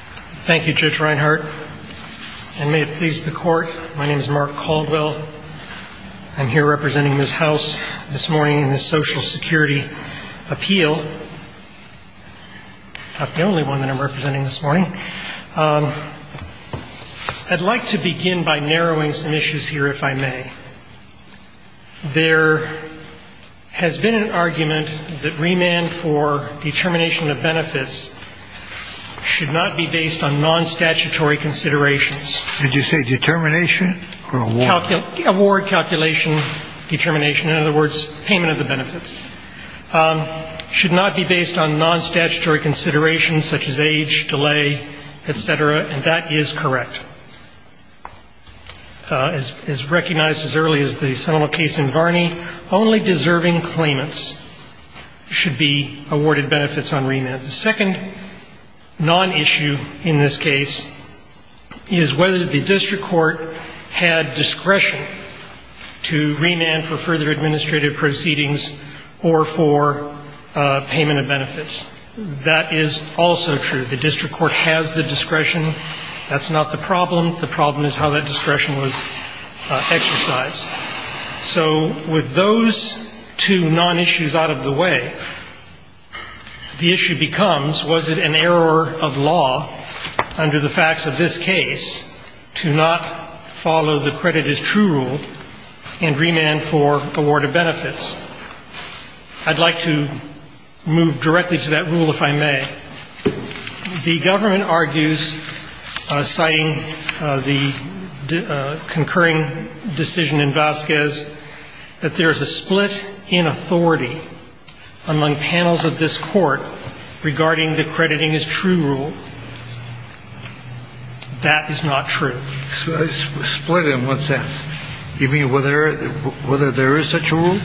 Thank you, Judge Reinhart. And may it please the Court, my name is Mark Caldwell. I'm here representing this House this morning in the Social Security Appeal. Not the only one that I'm representing this morning. I'd like to begin by narrowing some issues here, if I may. There has been an argument that remand for determination of benefits should not be based on non-statutory considerations. Did you say determination or award? Award, calculation, determination. In other words, payment of the benefits. Should not be based on non-statutory considerations such as age, delay, et cetera. And that is correct. As recognized as early as the Sonoma case in Varney, only deserving claimants should be awarded benefits on remand. The second non-issue in this case is whether the district court had discretion to remand for further administrative proceedings or for payment of benefits. That is also true. The district court has the discretion. That's not the problem. The problem is how that discretion was exercised. So with those two non-issues out of the way, the issue becomes, was it an error of law under the facts of this case to not follow the credit as true rule and remand for award of benefits? I'd like to move directly to that rule, if I may. The government argues, citing the concurring decision in Vasquez, that there is a split in authority among panels of this Court regarding the crediting as true rule. That is not true. Split in what sense? You mean whether there is such a rule?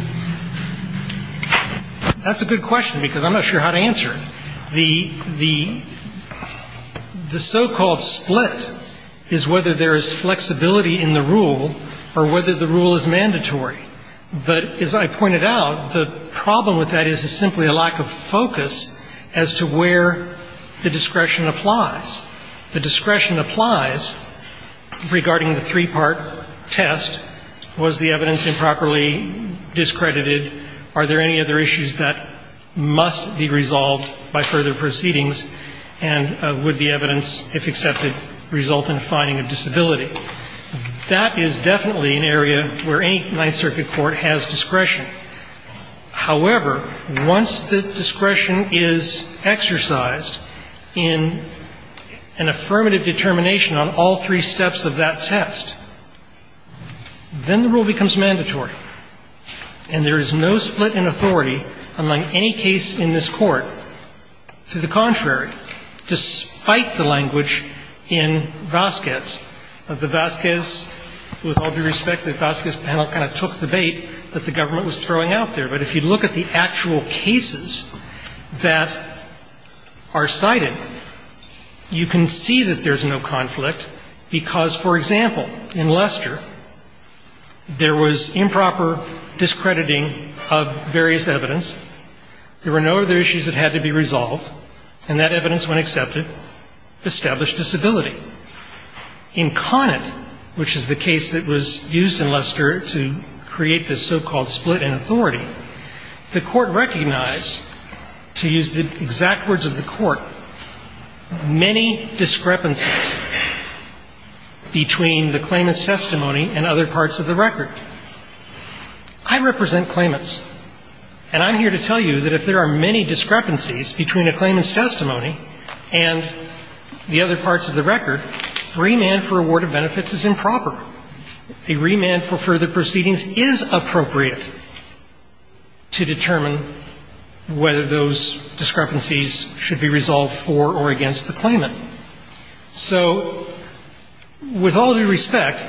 That's a good question, because I'm not sure how to answer it. The so-called split is whether there is flexibility in the rule or whether the rule is mandatory. But as I pointed out, the problem with that is simply a lack of focus as to where the discretion applies. The discretion applies regarding the three-part test, was the evidence improperly described or discredited? Are there any other issues that must be resolved by further proceedings? And would the evidence, if accepted, result in a finding of disability? That is definitely an area where any Ninth Circuit court has discretion. However, once the discretion is exercised in an affirmative determination on all three steps of that test, then the discretion applies. And there is no split in authority among any case in this Court, to the contrary, despite the language in Vasquez. The Vasquez, with all due respect, the Vasquez panel kind of took the bait that the government was throwing out there. But if you look at the actual cases that are cited, you can see that there's no conflict, because, for example, in Lester there was improper discrediting of various evidence. There were no other issues that had to be resolved, and that evidence, when accepted, established disability. In Conant, which is the case that was used in Lester to create this so-called split in authority, the Court recognized, to use the exact words of the Court, many discrepancies between the claimant's testimony and other parts of the record. I represent claimants, and I'm here to tell you that if there are many discrepancies between a claimant's testimony and the other parts of the record, remand for award is not appropriate to determine whether those discrepancies should be resolved for or against the claimant. So with all due respect,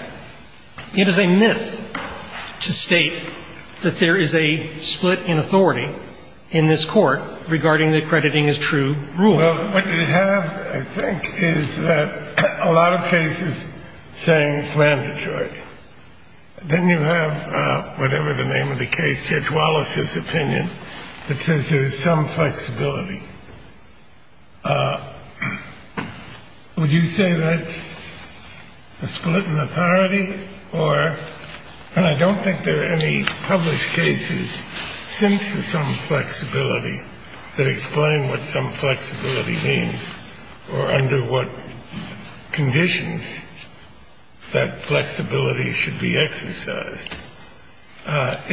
it is a myth to state that there is a split in authority in this Court regarding the accrediting as true rule. Well, what you have, I think, is that a lot of cases say it's mandatory. Then you have whatever the name of the case, Judge Wallace's opinion, that says there is some flexibility. Would you say that's a split in authority? Or, and I don't think there are any published cases since the some flexibility that explain what some flexibility means or under what means.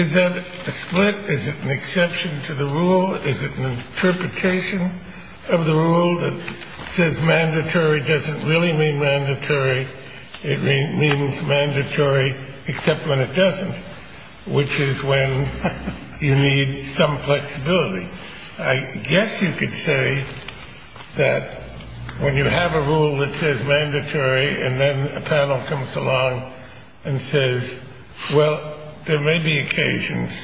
Is that a split? Is it an exception to the rule? Is it an interpretation of the rule that says mandatory doesn't really mean mandatory? It means mandatory except when it doesn't, which is when you need some flexibility. I guess you could say that when you have a rule that says mandatory and then a panel comes along and says, well, there may be occasions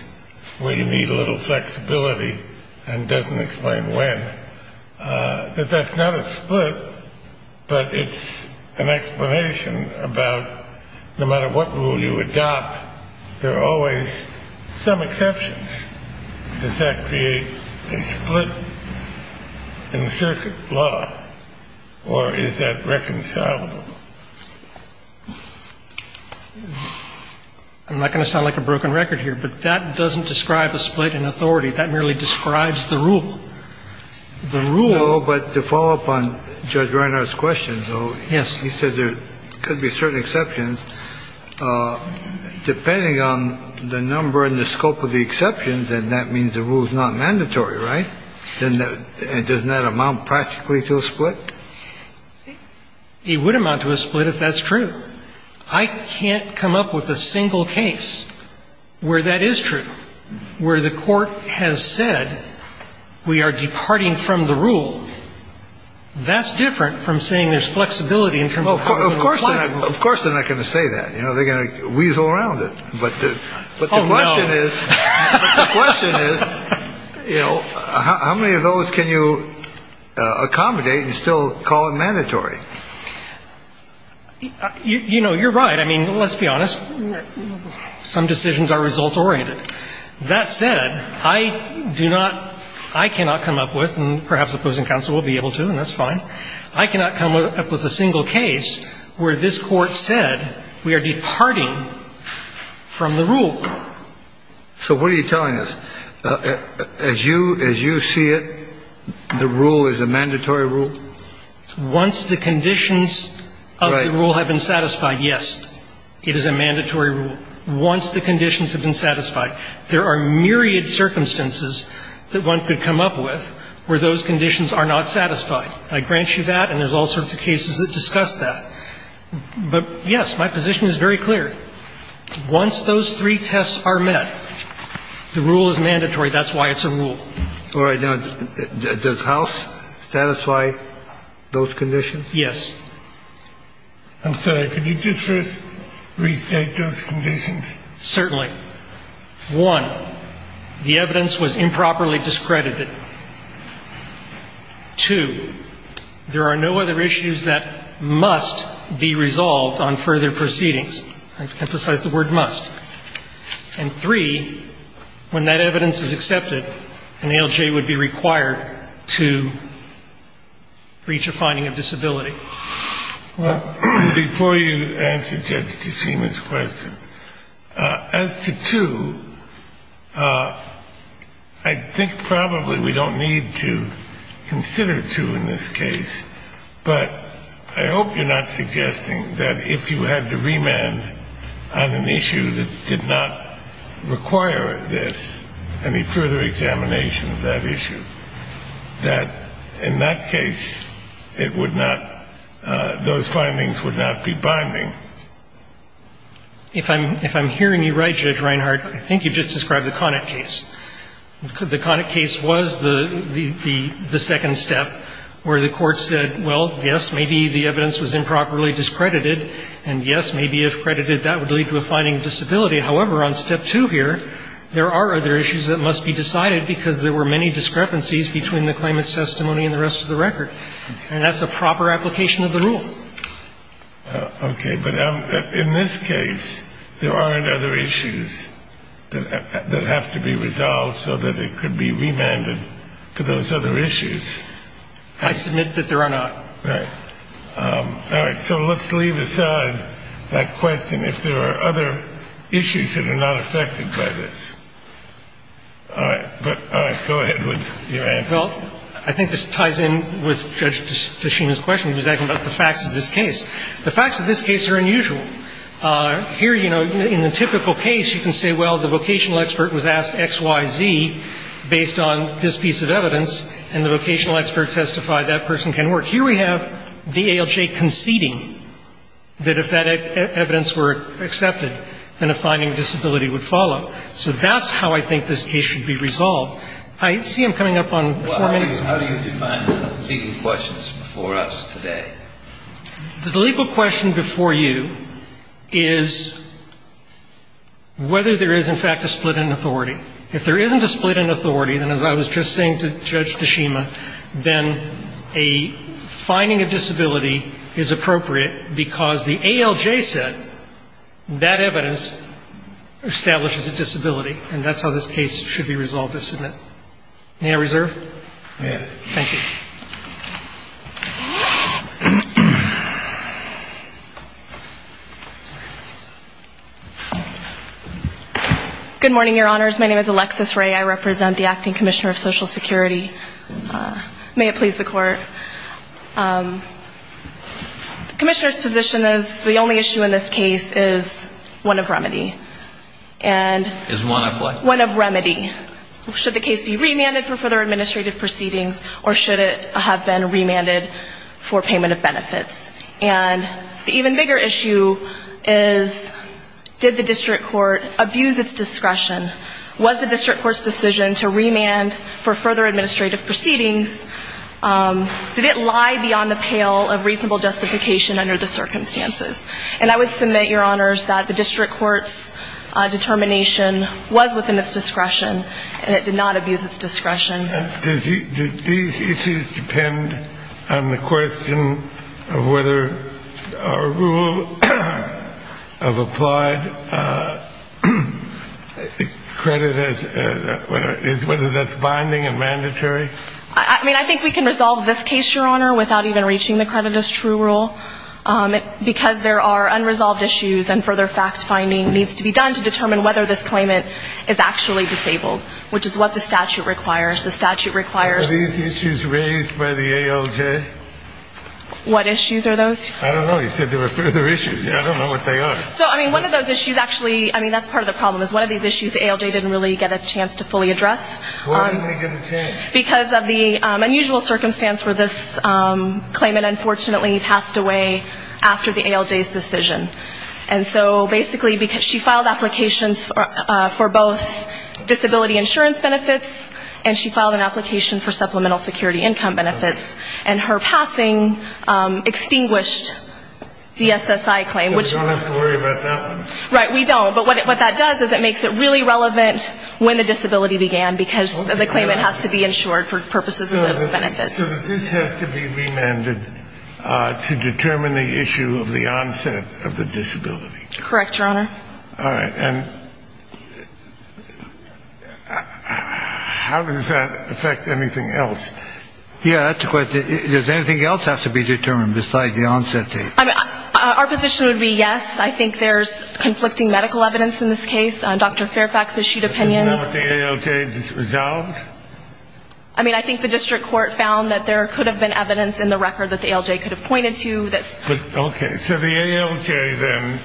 where you need a little flexibility and doesn't explain when, that that's not a split, but it's an explanation about no matter what rule you adopt, there are always some exceptions. Does that create a split in the circuit law? Or is that reconcilable? I'm not going to sound like a broken record here, but that doesn't describe a split in authority. That merely describes the rule. The rule. No, but to follow up on Judge Reinhart's question, though. Yes. He said there could be certain exceptions. Depending on the number and the scope of the exceptions, then that means the rule is not mandatory, right? And doesn't that amount practically to a split? It would amount to a split if that's true. I can't come up with a single case where that is true, where the court has said we are departing from the rule. That's different from saying there's flexibility in terms of. Of course, of course, they're not going to say that, you know, they're going to weasel around it. But the question is, you know, how many of those can you accommodate and still call it mandatory? You know, you're right. I mean, let's be honest. Some decisions are result oriented. That said, I do not I cannot come up with and perhaps opposing counsel will be able to and that's fine. I cannot come up with a single case where this court said we are departing from the rule. So what are you telling us? As you as you see it, the rule is a mandatory rule? Once the conditions of the rule have been satisfied, yes, it is a mandatory rule. Once the conditions have been satisfied. There are myriad circumstances that one could come up with where those conditions are not satisfied. I grant you that and there's all sorts of cases that discuss that. But, yes, my position is very clear. Once those three tests are met, the rule is mandatory. That's why it's a rule. All right. Now, does House satisfy those conditions? Yes. I'm sorry. Can you just first restate those conditions? Certainly. One, the evidence was improperly discredited. Two, there are no other issues that must be resolved on further proceedings. I've emphasized the word must. And three, when that evidence is accepted, an ALJ would be required to reach a finding of disability. Well, before you answer Justice Schumer's question, as to two, I think probably we don't need to consider two in this case, but I hope you're not suggesting that if you had to remand on an issue that did not require this, any further examination of that issue, that in that case, it would not, those findings would not be binding. If I'm hearing you right, Judge Reinhart, I think you just described the Connick case. The Connick case was the second step where the Court said, well, yes, maybe the evidence was improperly discredited. And yes, maybe if credited, that would lead to a finding of disability. However, on step two here, there are other issues that must be decided because there were many discrepancies between the claimant's testimony and the rest of the record. And that's a proper application of the rule. Okay. But in this case, there aren't other issues that have to be resolved so that it could be remanded to those other issues. I submit that there are not. Right. All right. So let's leave aside that question if there are other issues that are not affected by this. All right. Go ahead with your answer. Well, I think this ties in with Judge Tashima's question. He was asking about the facts of this case. The facts of this case are unusual. Here, you know, in the typical case, you can say, well, the vocational expert was asked X, Y, Z based on this piece of evidence, and the vocational expert testified that person can work. Here we have the ALJ conceding that if that evidence were accepted, then a finding of disability would follow. So that's how I think this case should be resolved. I see I'm coming up on four minutes. Well, how do you define the legal questions before us today? The legal question before you is whether there is, in fact, a split in authority. If there isn't a split in authority, then as I was just saying to Judge Tashima, then a finding of disability is appropriate because the ALJ said that evidence establishes a disability, and that's how this case should be resolved to submit. May I reserve? You may. Thank you. Good morning, Your Honors. My name is Alexis Ray. I represent the Acting Commissioner of Social Security. May it please the Court. The Commissioner's position is the only issue in this case is one of remedy. And one of what? One of remedy. Should the case be remanded for further administrative proceedings, or should it have been remanded for payment of benefits? And the even bigger issue is did the district court abuse its discretion? Was the district court's decision to remand for further administrative proceedings, did it lie beyond the pale of reasonable justification under the circumstances? And I would submit, Your Honors, that the district court's determination was within its discretion, and it did not abuse its discretion. And did these issues depend on the question of whether a rule of applied credit is, whether that's binding and mandatory? I mean, I think we can resolve this case, Your Honor, without even reaching the credit as true rule, because there are unresolved issues and further fact-finding needs to be done to make sure that the claimant is actually disabled, which is what the statute requires. The statute requires. Were these issues raised by the ALJ? What issues are those? I don't know. You said there were further issues. I don't know what they are. So, I mean, one of those issues actually, I mean, that's part of the problem is one of these issues the ALJ didn't really get a chance to fully address. Why didn't they get a chance? Because of the unusual circumstance where this claimant unfortunately passed away after the ALJ's decision. And so basically she filed applications for both disability insurance benefits and she filed an application for supplemental security income benefits. And her passing extinguished the SSI claim. So we don't have to worry about that one? Right, we don't. But what that does is it makes it really relevant when the disability began, because the claimant has to be insured for purposes of those benefits. So this has to be remanded to determine the issue of the onset of the disability? Correct, Your Honor. All right. And how does that affect anything else? Yeah, that's a good question. Does anything else have to be determined besides the onset date? Our position would be yes. I think there's conflicting medical evidence in this case. Dr. Fairfax issued opinions. Is that what the ALJ has resolved? I mean, I think the district court found that there could have been evidence in the record that the ALJ could have pointed to. Okay. So the ALJ then,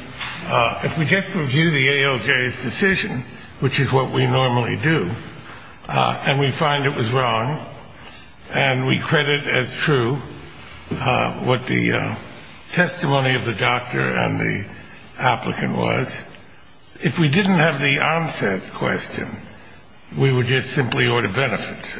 if we just review the ALJ's decision, which is what we normally do, and we find it was wrong and we credit as true what the testimony of the doctor and the applicant was, if we didn't have the onset question, we would just simply order benefits.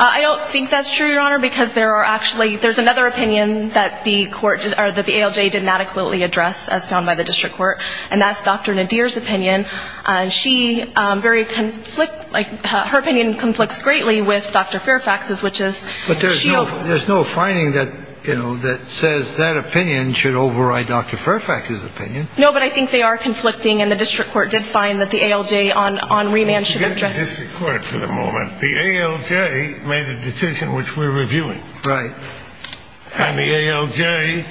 I don't think that's true, Your Honor, because there are actually ‑‑ there's another opinion that the ALJ didn't adequately address, as found by the district court, and that's Dr. Nadir's opinion. And she very ‑‑ her opinion conflicts greatly with Dr. Fairfax's, which is ‑‑ But there's no finding that says that opinion should override Dr. Fairfax's opinion. No, but I think they are conflicting, and the district court did find that the ALJ on remand should address ‑‑ Let's get to the district court for the moment. The ALJ made a decision which we're reviewing. Right. And the ALJ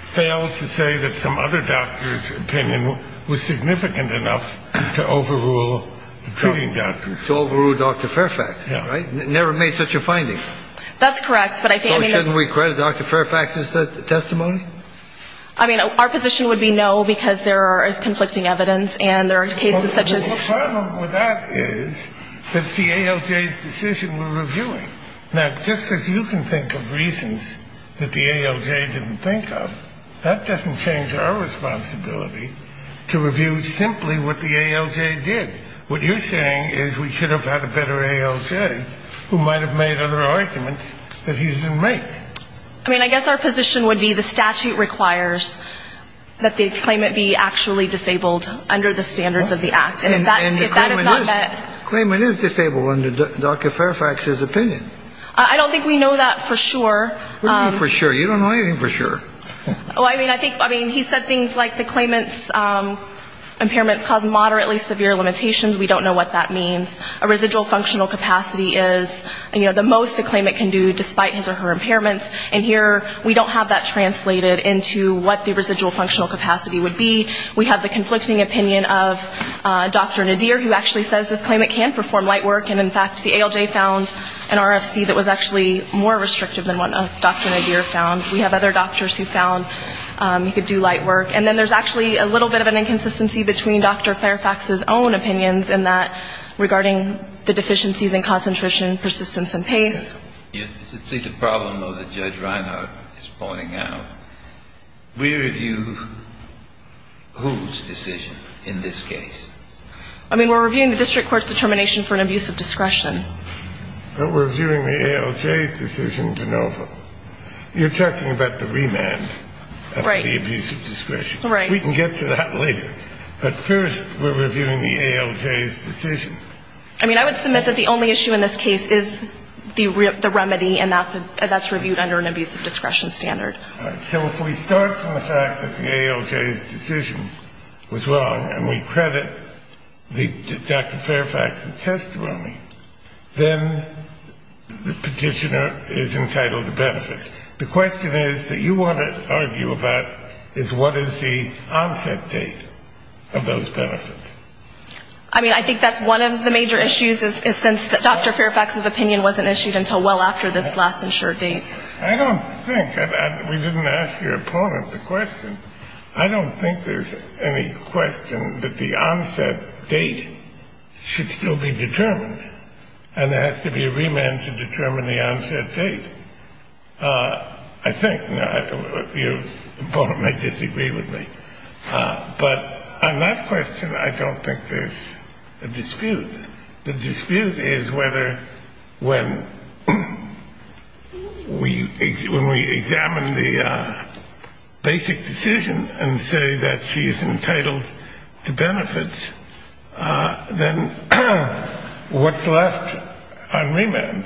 failed to say that some other doctor's opinion was significant enough to overrule the treating doctors. To overrule Dr. Fairfax. Yeah. Right? Never made such a finding. That's correct, but I think ‑‑ So shouldn't we credit Dr. Fairfax's testimony? I mean, our position would be no, because there is conflicting evidence, and there are cases such as ‑‑ Well, the problem with that is that it's the ALJ's decision we're reviewing. Now, just because you can think of reasons that the ALJ didn't think of, that doesn't change our responsibility to review simply what the ALJ did. What you're saying is we should have had a better ALJ, who might have made other arguments that he didn't make. I mean, I guess our position would be the statute requires that the claimant be actually disabled under the standards of the act. And if that is not met ‑‑ And the claimant is disabled under Dr. Fairfax's opinion. I don't think we know that for sure. What do you mean for sure? You don't know anything for sure. I mean, he said things like the claimant's impairments cause moderately severe limitations. We don't know what that means. A residual functional capacity is the most a claimant can do despite his or her impairments, and here we don't have that translated into what the residual functional capacity would be. We have the conflicting opinion of Dr. Nadir, who actually says this claimant can perform light work, and in fact the ALJ found an RFC that was actually more restrictive than what Dr. Nadir found. We have other doctors who found he could do light work. And then there's actually a little bit of an inconsistency between Dr. Fairfax's own opinions in that regarding the deficiencies in concentration, persistence, and pace. You can see the problem, though, that Judge Reinhart is pointing out. We review whose decision in this case. I mean, we're reviewing the district court's determination for an abuse of discretion. But we're reviewing the ALJ's decision to novel. You're talking about the remand of the abuse of discretion. Right. We can get to that later. But first we're reviewing the ALJ's decision. I mean, I would submit that the only issue in this case is the remedy, and that's reviewed under an abuse of discretion standard. So if we start from the fact that the ALJ's decision was wrong, and we credit Dr. Fairfax's testimony, then the petitioner is entitled to benefits. The question is that you want to argue about is what is the onset date of those benefits. I mean, I think that's one of the major issues, is since Dr. Fairfax's opinion wasn't issued until well after this last and short date. I don't think we didn't ask your opponent the question. I don't think there's any question that the onset date should still be determined, and there has to be a remand to determine the onset date, I think. Now, your opponent may disagree with me. But on that question, I don't think there's a dispute. The dispute is whether when we examine the basic decision and say that she is entitled to benefits, then what's left on remand?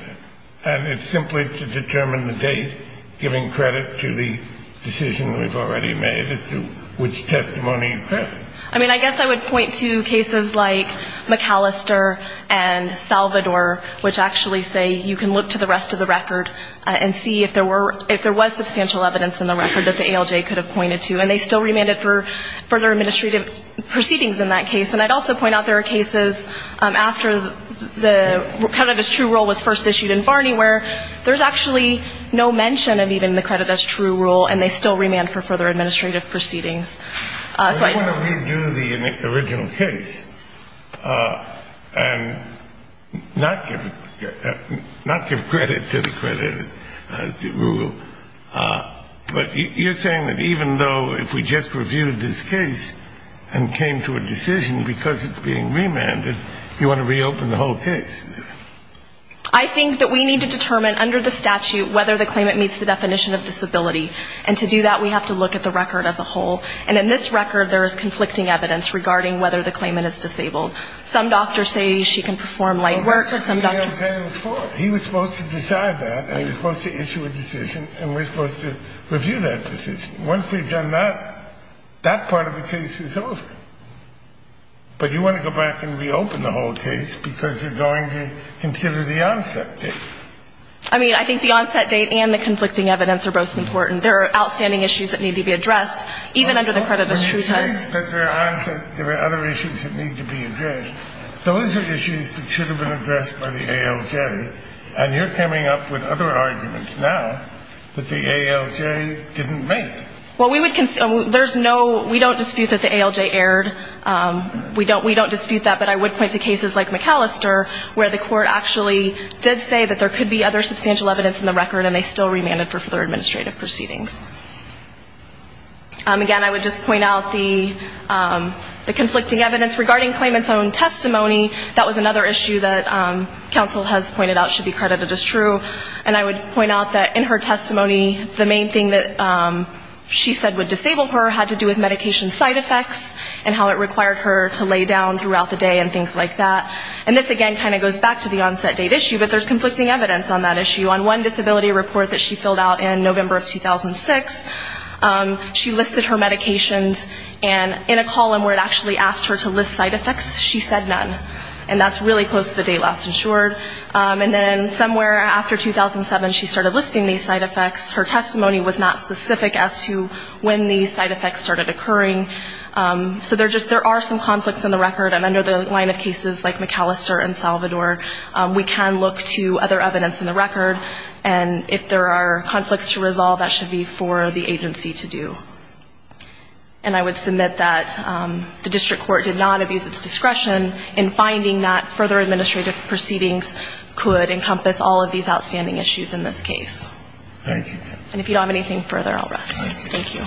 And it's simply to determine the date, giving credit to the decision we've already made as to which testimony you credit. I mean, I guess I would point to cases like McAllister and Salvador, which actually say you can look to the rest of the record and see if there was substantial evidence in the record that the ALJ could have pointed to. And they still remanded for further administrative proceedings in that case. And I'd also point out there are cases after the credit as true rule was first issued in Varney where there's actually no mention of even the credit as true rule, and they still remand for further administrative proceedings. I don't want to redo the original case and not give credit to the credit rule. But you're saying that even though if we just reviewed this case and came to a decision because it's being remanded, you want to reopen the whole case? I think that we need to determine under the statute whether the claimant meets the definition of disability. And to do that, we have to look at the record as a whole. And in this record, there is conflicting evidence regarding whether the claimant is disabled. Some doctors say she can perform light work. He was supposed to decide that, and he was supposed to issue a decision, and we're supposed to review that decision. Once we've done that, that part of the case is over. But you want to go back and reopen the whole case because you're going to consider the onset date. I mean, I think the onset date and the conflicting evidence are both important. There are outstanding issues that need to be addressed, even under the credit as true time. But you're saying that there are other issues that need to be addressed. Those are issues that should have been addressed by the ALJ, and you're coming up with other arguments now that the ALJ didn't make. Well, we would consider ñ there's no ñ we don't dispute that the ALJ erred. We don't dispute that, but I would point to cases like McAllister, where the court actually did say that there could be other substantial evidence in the record, and they still remanded for further administrative proceedings. Again, I would just point out the conflicting evidence. Regarding claimant's own testimony, that was another issue that counsel has pointed out should be credited as true. And I would point out that in her testimony, the main thing that she said would disable her had to do with medication side effects and how it required her to lay down throughout the day and things like that. And this, again, kind of goes back to the onset date issue, but there's conflicting evidence on that issue. On one disability report that she filled out in November of 2006, she listed her medications, and in a column where it actually asked her to list side effects, she said none. And that's really close to the date last insured. And then somewhere after 2007, she started listing these side effects. Her testimony was not specific as to when these side effects started occurring. So there are some conflicts in the record, and under the line of cases like McAllister and Salvador, we can look to other evidence in the record, and if there are conflicts to resolve, that should be for the agency to do. And I would submit that the district court did not abuse its discretion in finding that further administrative proceedings could encompass all of these outstanding issues in this case. Thank you. And if you don't have anything further, I'll rest. Thank you.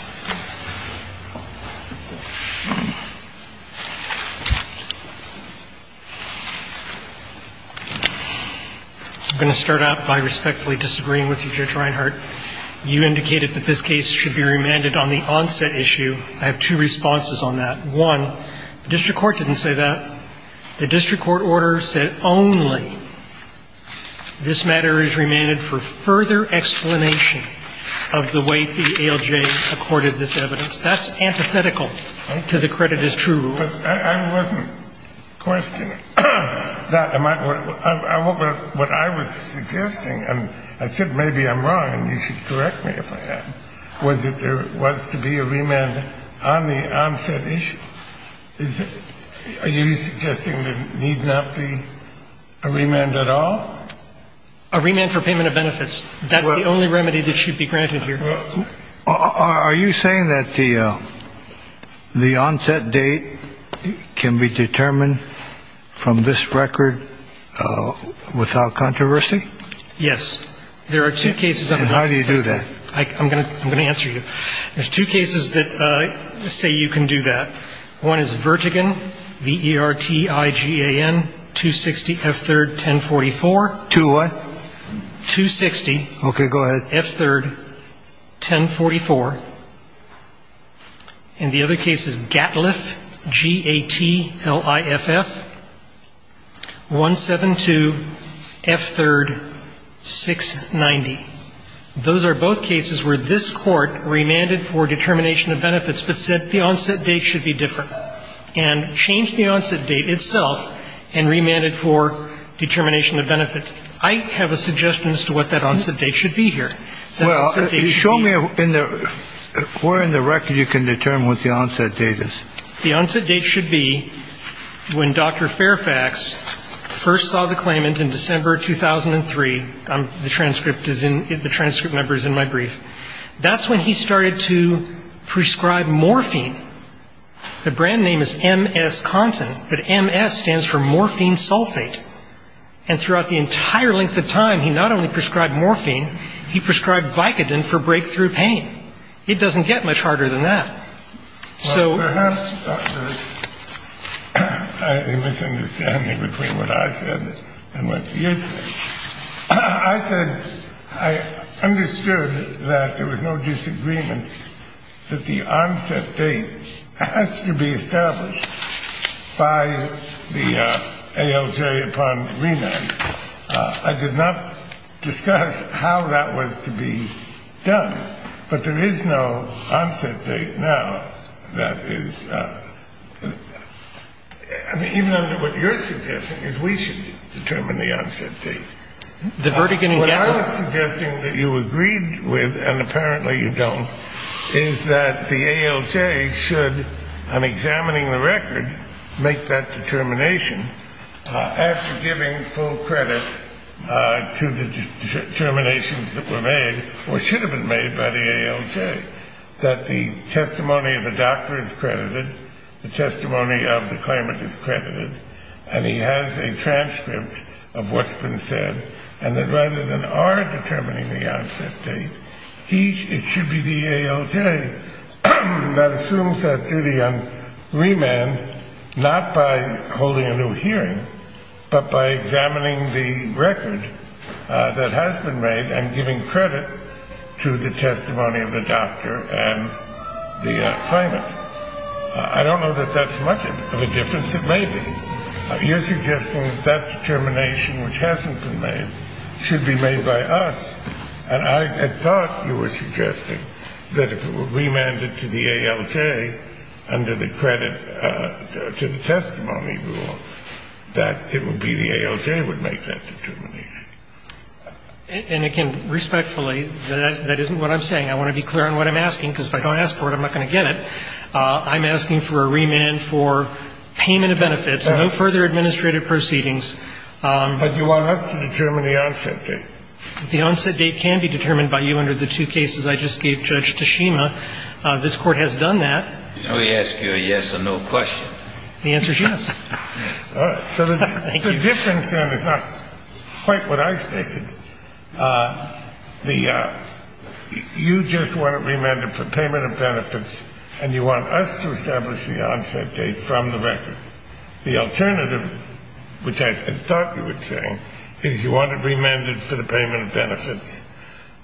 I'm going to start out by respectfully disagreeing with you, Judge Reinhardt. You indicated that this case should be remanded on the onset issue. I have two responses on that. One, the district court didn't say that. The district court order said only this matter is remanded for further explanation of the way the ALJ acquires its discretion. The district court did not say that. The district court ordered this evidence. That's antithetical to the credit is true rule. I wasn't questioning that. What I was suggesting, and I said maybe I'm wrong and you should correct me if I am, was that there was to be a remand on the onset issue. Are you suggesting there need not be a remand at all? A remand for payment of benefits. That's the only remedy that should be granted here. Are you saying that the onset date can be determined from this record without controversy? Yes. There are two cases. And how do you do that? I'm going to answer you. There's two cases that say you can do that. One is Vertigan, V-E-R-T-I-G-A-N, 260 F-3rd, 1044. 260 what? 260. Okay, go ahead. F-3rd, 1044. And the other case is Gatliff, G-A-T-L-I-F-F, 172 F-3rd, 690. Those are both cases where this Court remanded for determination of benefits but said the onset date should be different and changed the onset date itself and remanded for determination of benefits. I have a suggestion as to what that onset date should be here. Well, show me where in the record you can determine what the onset date is. The onset date should be when Dr. Fairfax first saw the claimant in December 2003. The transcript number is in my brief. That's when he started to prescribe morphine. The brand name is MS content, but MS stands for morphine sulfate. And throughout the entire length of time, he not only prescribed morphine, he prescribed Vicodin for breakthrough pain. It doesn't get much harder than that. Perhaps there's a misunderstanding between what I said and what you said. I said I understood that there was no disagreement that the onset date has to be established by the ALJ upon remand. I did not discuss how that was to be done. But there is no onset date now that is even under what you're suggesting is we should determine the onset date. The verdict in gathering. What I was suggesting that you agreed with, and apparently you don't, is that the ALJ should, on examining the record, make that determination after giving full credit to the determinations that were made or should have been made by the ALJ, that the testimony of the doctor is credited, the testimony of the claimant is credited, and he has a transcript of what's been said, and that rather than our determining the onset date, it should be the ALJ that assumes that duty on remand, not by holding a new hearing, but by examining the record that has been made and giving credit to the testimony of the doctor and the claimant. I don't know that that's much of a difference. It may be. You're suggesting that determination which hasn't been made should be made by us, And I had thought you were suggesting that if it were remanded to the ALJ under the credit to the testimony rule, that it would be the ALJ would make that determination. And, again, respectfully, that isn't what I'm saying. I want to be clear on what I'm asking, because if I don't ask for it, I'm not going to get it. I'm asking for a remand for payment of benefits, no further administrative proceedings. But you want us to determine the onset date. The onset date can be determined by you under the two cases I just gave Judge Tashima. This Court has done that. Can we ask you a yes or no question? The answer is yes. Thank you. So the difference then is not quite what I stated. You just want it remanded for payment of benefits, and you want us to establish the onset date from the record. The alternative, which I thought you were saying, is you want it remanded for the payment of benefits.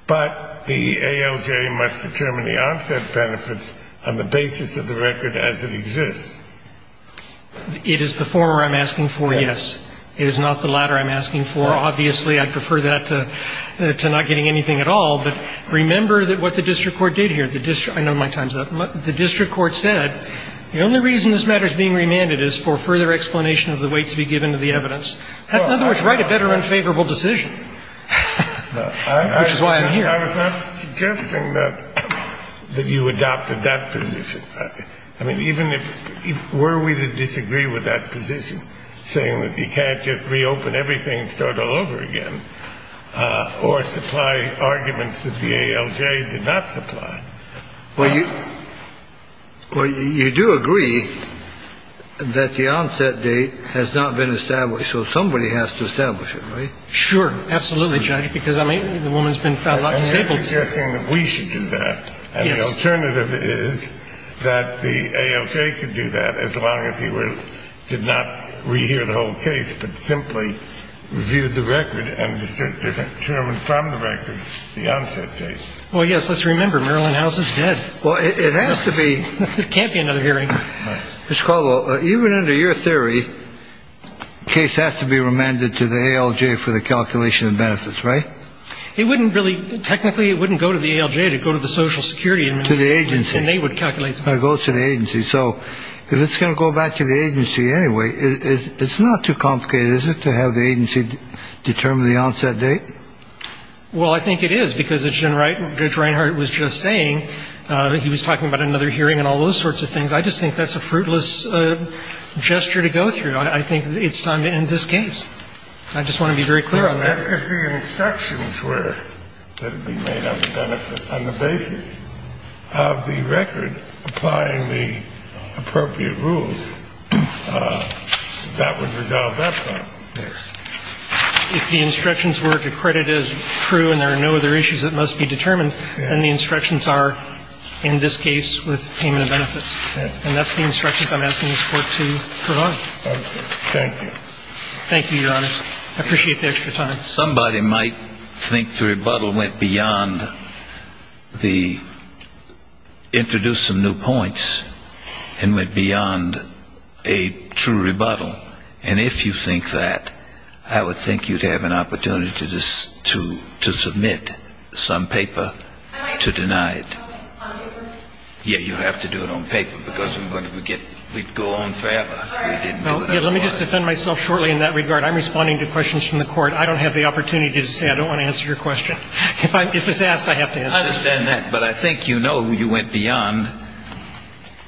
But the ALJ must determine the onset benefits on the basis of the record as it exists. It is the former I'm asking for, yes. It is not the latter I'm asking for. Obviously, I'd prefer that to not getting anything at all. But remember what the district court did here. I know my time's up. The district court said the only reason this matter is being remanded is for further explanation of the weight to be given to the evidence. In other words, write a better unfavorable decision, which is why I'm here. I was not suggesting that you adopted that position. I mean, even if we were to disagree with that position, saying that you can't just reopen everything and start all over again, or supply arguments that the ALJ did not supply. Well, you do agree that the onset date has not been established, so somebody has to establish it, right? Sure. Absolutely, Judge, because the woman's been found not disabled. I'm not suggesting that we should do that. And the alternative is that the ALJ could do that as long as he did not rehear the whole case, but simply reviewed the record and determined from the record the onset date. Well, yes, let's remember, Maryland House is dead. Well, it has to be. There can't be another hearing. Mr. Caldwell, even under your theory, the case has to be remanded to the ALJ for the calculation of benefits, right? It wouldn't really, technically it wouldn't go to the ALJ, it would go to the Social Security Administration. To the agency. And they would calculate the benefits. It would go to the agency. So if it's going to go back to the agency anyway, it's not too complicated, is it, to have the agency determine the onset date? Well, I think it is, because as Judge Reinhart was just saying, he was talking about another hearing and all those sorts of things. I just think that's a fruitless gesture to go through. I think it's time to end this case. I just want to be very clear on that. If the instructions were that it be made up of benefits on the basis of the record applying the appropriate rules, that would resolve that problem. If the instructions were accredited as true and there are no other issues that must be determined, then the instructions are, in this case, with payment of benefits. And that's the instructions I'm asking this Court to provide. Thank you. Thank you, Your Honor. I appreciate the extra time. Somebody might think the rebuttal went beyond the introduce some new points and went beyond a true rebuttal. And if you think that, I would think you'd have an opportunity to submit some paper to deny it. Yeah, you'd have to do it on paper, because we'd go on forever. Let me just defend myself shortly in that regard. I'm responding to questions from the Court. I don't have the opportunity to say I don't want to answer your question. If it's asked, I have to answer it. I understand that, but I think you know you went beyond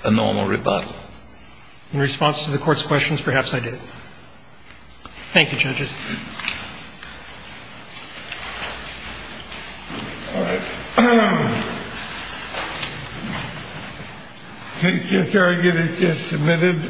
a normal rebuttal. In response to the Court's questions, perhaps I did. Thank you, judges. All right. I just argued it's just submitted.